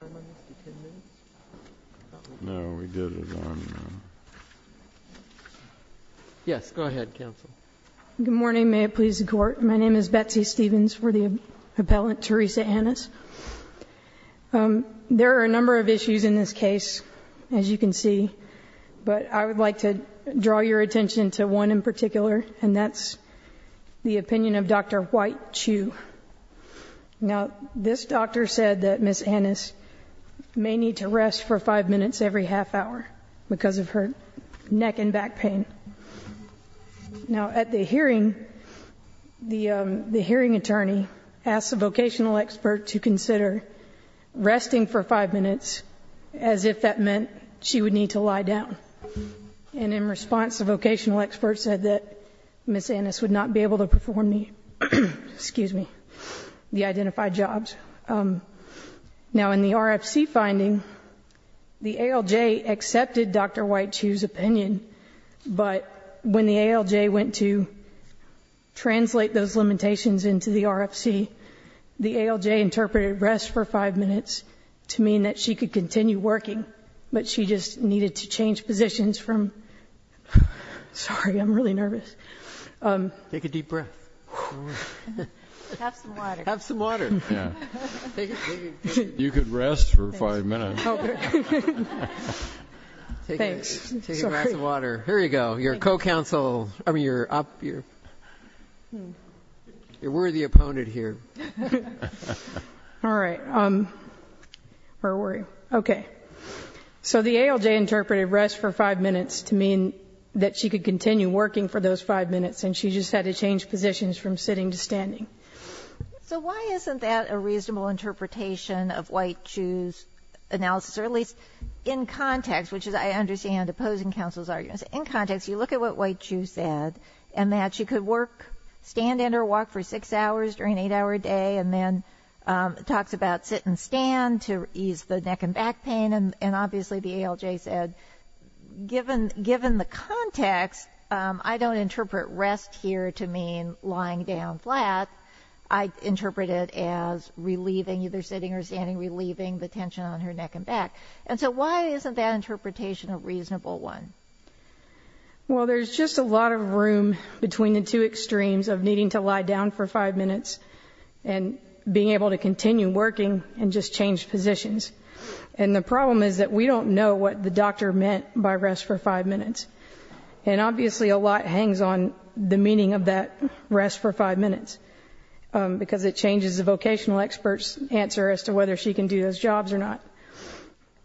Good morning, may it please the court. My name is Betsy Stevens for the appellant Teresa Annis. There are a number of issues in this case, as you can see, but I would like to draw your attention to one in particular, and that's the opinion of Dr. White Chu. Now, this doctor said that Ms. Annis may need to rest for five minutes every half hour because of her neck and back pain. Now, at the hearing, the hearing attorney asked the vocational expert to consider resting for five minutes as if that meant she would need to lie down. And in response, the vocational expert said that Ms. Annis would not be able to perform the identified jobs. Now, in the RFC finding, the ALJ accepted Dr. White Chu's opinion, but when the ALJ went to translate those limitations into the RFC, the ALJ interpreted rest for five minutes to mean that she could continue working, but she just needed to change positions from... Sorry, I'm really nervous. Take a deep breath. Have some water. Have some water. You could rest for five minutes. Thanks. Take a glass of water. Here you go, your co-counsel, I mean, your worthy opponent here. All right. Where were you? Okay. So the ALJ interpreted rest for five minutes to mean that she could continue working for those five minutes, and she just had to change positions from sitting to standing. So why isn't that a reasonable interpretation of White Chu's analysis, or at least in context, which is I understand opposing counsel's arguments. In context, you look at what White Chu said, and that she could work, stand and or walk for six hours during an eight-hour day, and then it talks about sit and stand to ease the neck and back pain, and obviously the ALJ said, given the context, I don't interpret rest here to mean lying down flat. I interpret it as relieving, either sitting or standing, relieving the tension on her neck and back. And so why isn't that interpretation a reasonable one? Well, there's just a lot of room between the two extremes of needing to lie down for five minutes and being able to continue working and just change positions. And the problem is that we don't know what the doctor meant by rest for five minutes. And obviously a lot hangs on the meaning of that rest for five minutes, because it changes the vocational expert's answer as to whether she can do those jobs or not.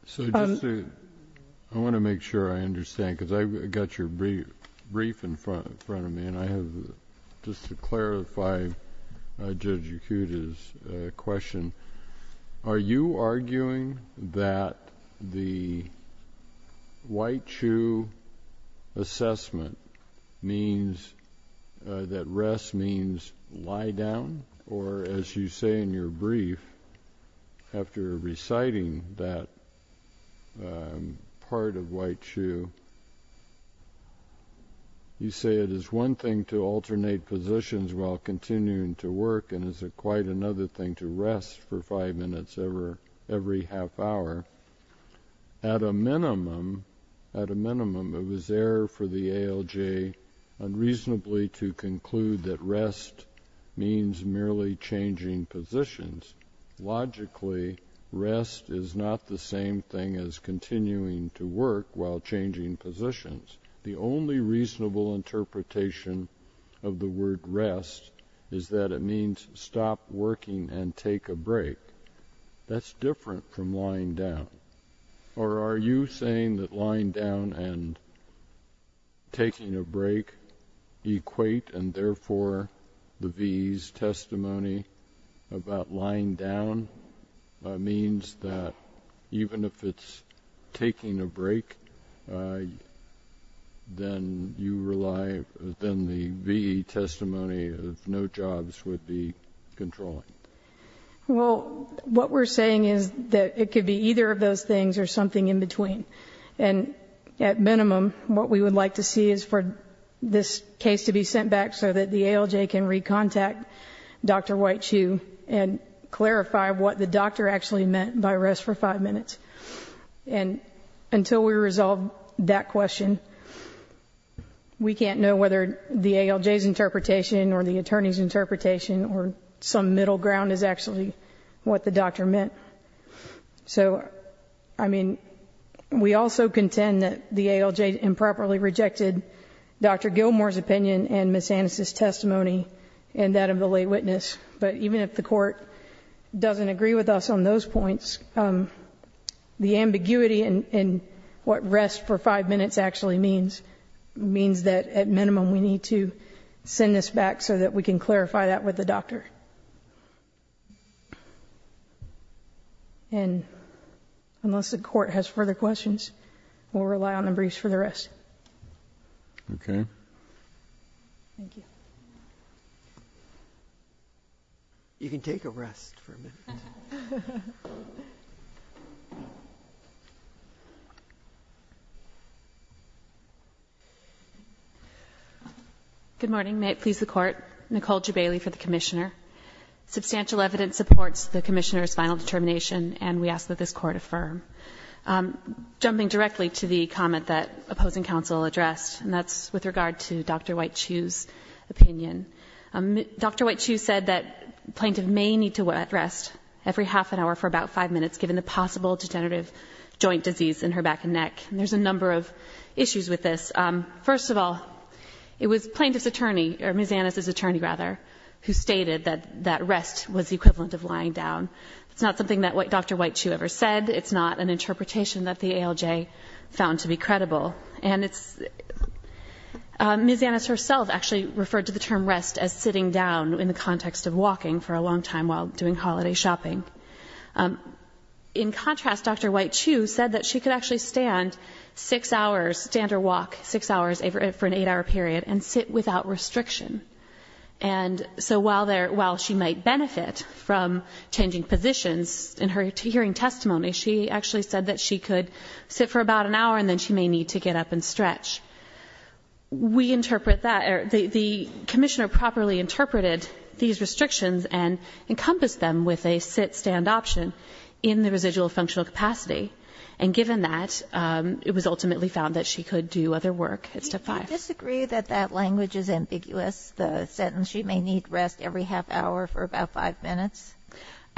So I want to make sure I understand, because I've got your brief in front of me, and I have just to clarify Judge Yakuta's question. Are you arguing that the White Chu assessment means that rest means lie down? Or, as you say in your brief, after reciting that part of White Chu, you say it is one thing to alternate positions while continuing to work and is it quite another thing to rest for five minutes every half hour? At a minimum, it was error for the ALJ unreasonably to conclude that rest means merely changing positions. Logically, rest is not the same thing as continuing to work while changing positions. The only reasonable interpretation of the word rest is that it means stop working and take a break. That's different from lying down. Or are you saying that lying down and taking a break equate and therefore the V.E.'s testimony about lying down means that even if it's taking a break, then the V.E. testimony of no jobs would be controlling? Well, what we're saying is that it could be either of those things or something in between. And at minimum, what we would like to see is for this case to be sent back so that the ALJ can recontact Dr. White Chu and clarify what the doctor actually meant by rest for five minutes. And until we resolve that question, we can't know whether the ALJ's interpretation or the attorney's interpretation or some middle ground is actually what the doctor meant. So, I mean, we also contend that the ALJ improperly rejected Dr. Gilmour's opinion and Ms. Annis' testimony and that of the lay witness. But even if the court doesn't agree with us on those points, the ambiguity in what rest for five minutes actually means that at minimum we need to send this back so that we can clarify that with the doctor. And unless the court has further questions, we'll rely on the briefs for the rest. Okay. Thank you. You can take a rest for a minute. Good morning. May it please the court. Nicole Jubaley for the commissioner. Substantial evidence supports the commissioner's final determination and we ask that this court affirm. Jumping directly to the comment that opposing counsel addressed and that's with regard to Dr. White Chu's opinion. Dr. White Chu said that plaintiff may need to rest every half an hour for about five minutes given the possible degenerative joint disease in her back and neck. And there's a number of issues with this. First of all, it was plaintiff's attorney, or Ms. Annis' attorney rather, who stated that rest was the equivalent of lying down. It's not something that Dr. White Chu ever said. It's not an interpretation that the ALJ found to be credible. And Ms. Annis herself actually referred to the term rest as sitting down in the context of walking for a long time while doing holiday shopping. In contrast, Dr. White Chu said that she could actually stand six hours, stand or walk six hours for an eight-hour period and sit without restriction. And so while she might benefit from changing positions in her hearing testimony, she actually said that she could sit for about an hour and then she may need to get up and stretch. We interpret that. The commissioner properly interpreted these restrictions and encompassed them with a sit-stand option in the residual functional capacity. And given that, it was ultimately found that she could do other work at Step 5. Do you disagree that that language is ambiguous, the sentence she may need rest every half hour for about five minutes?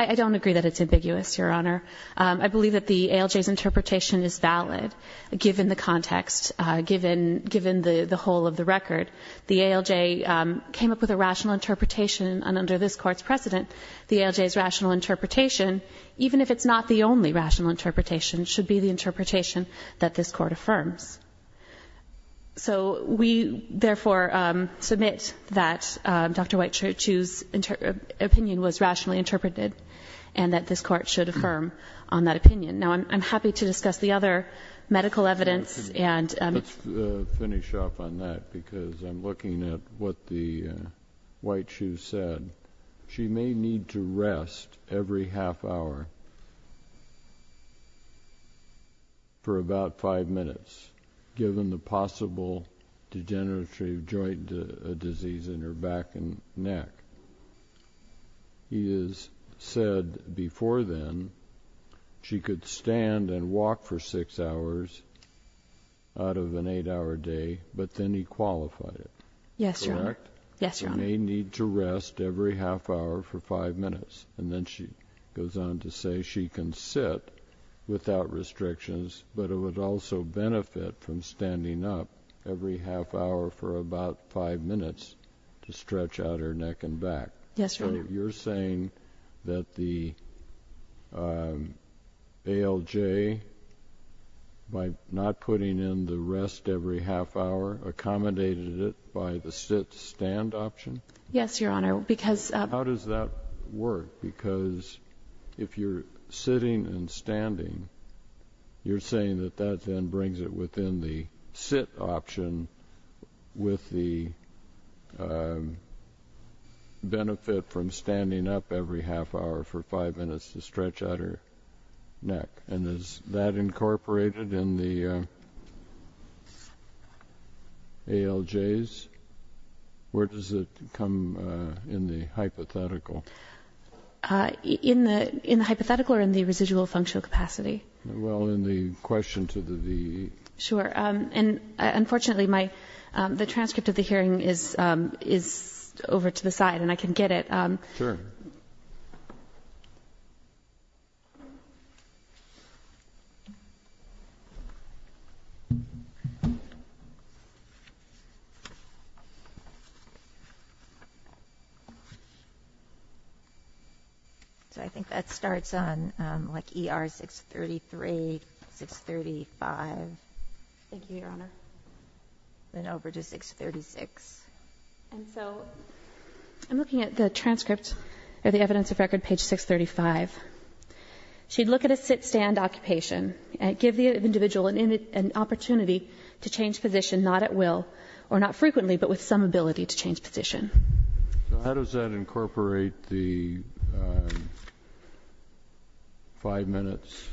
I don't agree that it's ambiguous, Your Honor. I believe that the ALJ's interpretation is valid given the context, given the whole of the record. The ALJ came up with a rational interpretation and under this Court's precedent, the ALJ's rational interpretation, even if it's not the only rational interpretation, should be the interpretation that this Court affirms. So we therefore submit that Dr. White Chu's opinion was rationally interpreted and that this Court should affirm on that opinion. Now, I'm happy to discuss the other medical evidence. Let's finish up on that because I'm looking at what the White Chu said. She may need to rest every half hour for about five minutes given the possible degenerative joint disease in her back and neck. He has said before then she could stand and walk for six hours out of an eight-hour day, but then he qualified it. Yes, Your Honor. Correct? Yes, Your Honor. She may need to rest every half hour for five minutes. And then she goes on to say she can sit without restrictions, but it would also benefit from standing up every half hour for about five minutes to stretch out her neck and back. Yes, Your Honor. So you're saying that the ALJ, by not putting in the rest every half hour, accommodated it by the sit-stand option? Yes, Your Honor, because How does that work? Because if you're sitting and standing, you're saying that that then brings it within the sit option with the benefit from standing up every half hour for five minutes to stretch out her neck. And is that incorporated in the ALJs? Where does it come in the hypothetical? In the hypothetical or in the residual functional capacity? Well, in the question to the VE. Sure. And unfortunately, the transcript of the hearing is over to the side, and I can get it. Sure. So I think that starts on like ER 633, 635. Thank you, Your Honor. Then over to 636. And so I'm looking at the transcript or the evidence of record, page 635. She'd look at a sit-stand occupation and give the individual an opportunity to change position, not at will or not frequently, but with some ability to change position. So how does that incorporate the five minutes?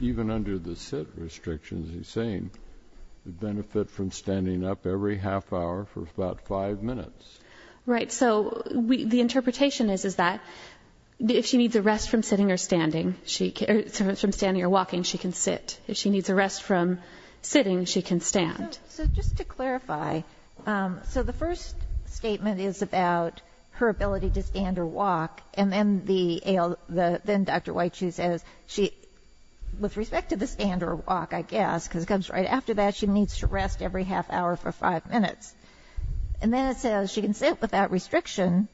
Even under the sit restrictions, the benefit from standing up every half hour for about five minutes. Right. So the interpretation is that if she needs a rest from sitting or walking, she can sit. If she needs a rest from sitting, she can stand. So just to clarify, so the first statement is about her ability to stand or walk, and then Dr. White, she says, with respect to the stand or walk, I guess, because it comes right after that, she needs to rest every half hour for five minutes. And then it says she can sit without restriction,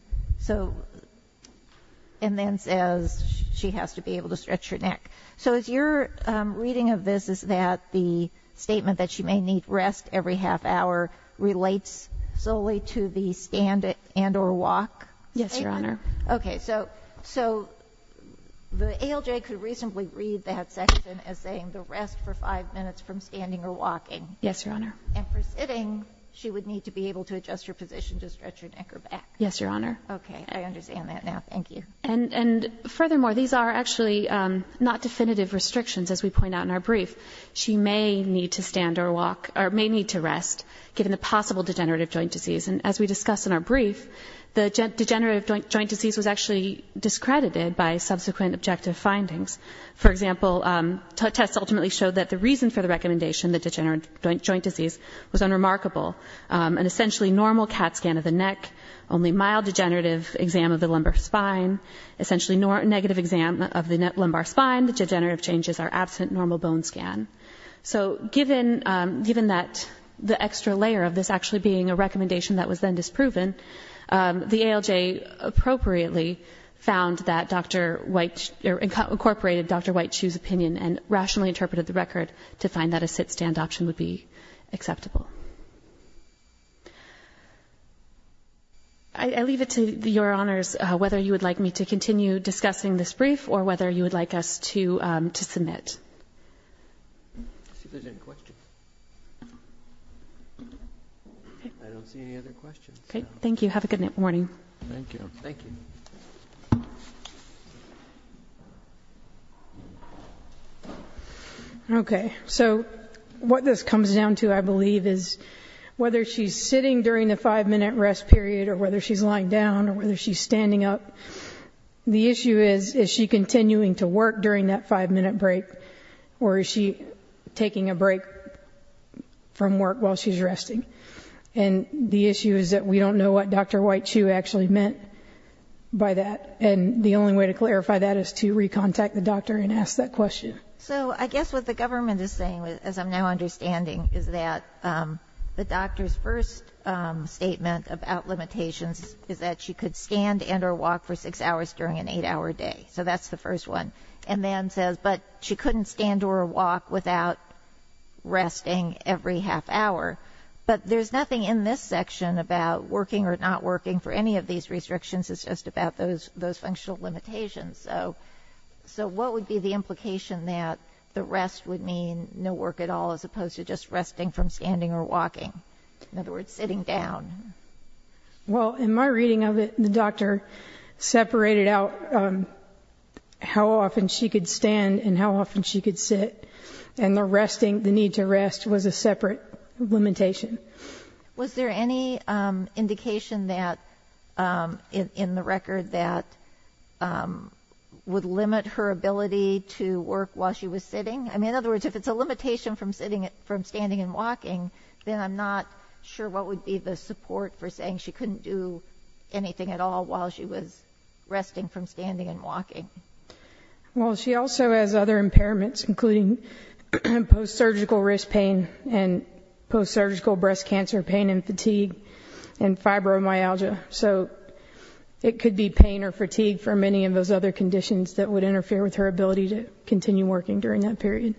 and then says she has to be able to stretch her neck. So your reading of this is that the statement that she may need rest every half hour relates solely to the stand and or walk? Yes, Your Honor. Okay. So the ALJ could reasonably read that section as saying the rest for five minutes from standing or walking. Yes, Your Honor. And for sitting, she would need to be able to adjust her position to stretch her neck or back. Yes, Your Honor. Okay. I understand that now. Thank you. And furthermore, these are actually not definitive restrictions, as we point out in our brief. She may need to stand or walk or may need to rest, given the possible degenerative joint disease. And as we discussed in our brief, the degenerative joint disease was actually discredited by subsequent objective findings. For example, tests ultimately showed that the reason for the recommendation, the degenerative joint disease, was unremarkable. An essentially normal CAT scan of the neck, only mild degenerative exam of the lumbar spine, essentially negative exam of the lumbar spine, the degenerative changes are absent normal bone scan. So given that the extra layer of this actually being a recommendation that was then disproven, the ALJ appropriately found that Dr. White, incorporated Dr. White's opinion and rationally interpreted the record to find that a sit-stand option would be acceptable. I leave it to Your Honors, whether you would like me to continue discussing this brief or whether you would like us to submit. Let's see if there's any questions. I don't see any other questions. Okay, thank you. Have a good morning. Thank you. Thank you. Okay, so what this comes down to, I believe, is whether she's sitting during the five-minute rest period or whether she's lying down or whether she's standing up, the issue is, is she continuing to work during that five-minute break or is she taking a break from work while she's resting? And the issue is that we don't know what Dr. White actually meant by that, and the only way to clarify that is to recontact the doctor and ask that question. So I guess what the government is saying, as I'm now understanding, is that the doctor's first statement about limitations is that she could stand and or walk for six hours during an eight-hour day. So that's the first one. And then says, but she couldn't stand or walk without resting every half hour. But there's nothing in this section about working or not working for any of these restrictions. It's just about those functional limitations. So what would be the implication that the rest would mean no work at all as opposed to just resting from standing or walking? In other words, sitting down. Well, in my reading of it, the doctor separated out how often she could stand and how often she could sit. And the resting, the need to rest, was a separate limitation. Was there any indication that, in the record, that would limit her ability to work while she was sitting? I mean, in other words, if it's a limitation from standing and walking, then I'm not sure what would be the support for saying she couldn't do anything at all while she was resting from standing and walking. Well, she also has other impairments, including post-surgical wrist pain and post-surgical breast cancer pain and fatigue and fibromyalgia. So it could be pain or fatigue for many of those other conditions that would interfere with her ability to continue working during that period.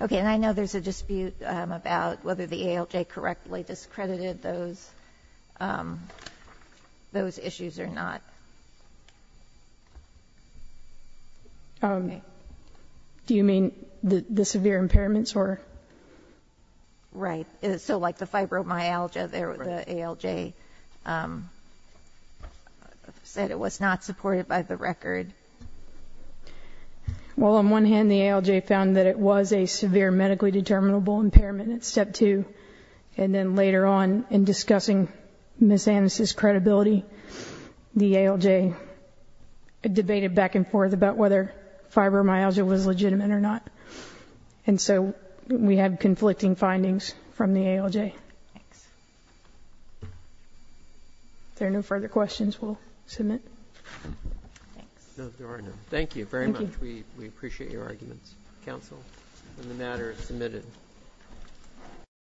Okay, and I know there's a dispute about whether the ALJ correctly discredited those issues or not. Do you mean the severe impairments? Right. So like the fibromyalgia, the ALJ said it was not supported by the record. Well, on one hand, the ALJ found that it was a severe medically determinable impairment at Step 2. And then later on, in discussing Ms. Annis' credibility, the ALJ debated back and forth about whether fibromyalgia was legitimate or not. And so we had conflicting findings from the ALJ. Thanks. If there are no further questions, we'll submit. No, there are none. Thank you very much. Thank you. We appreciate your arguments, counsel, on the matter submitted.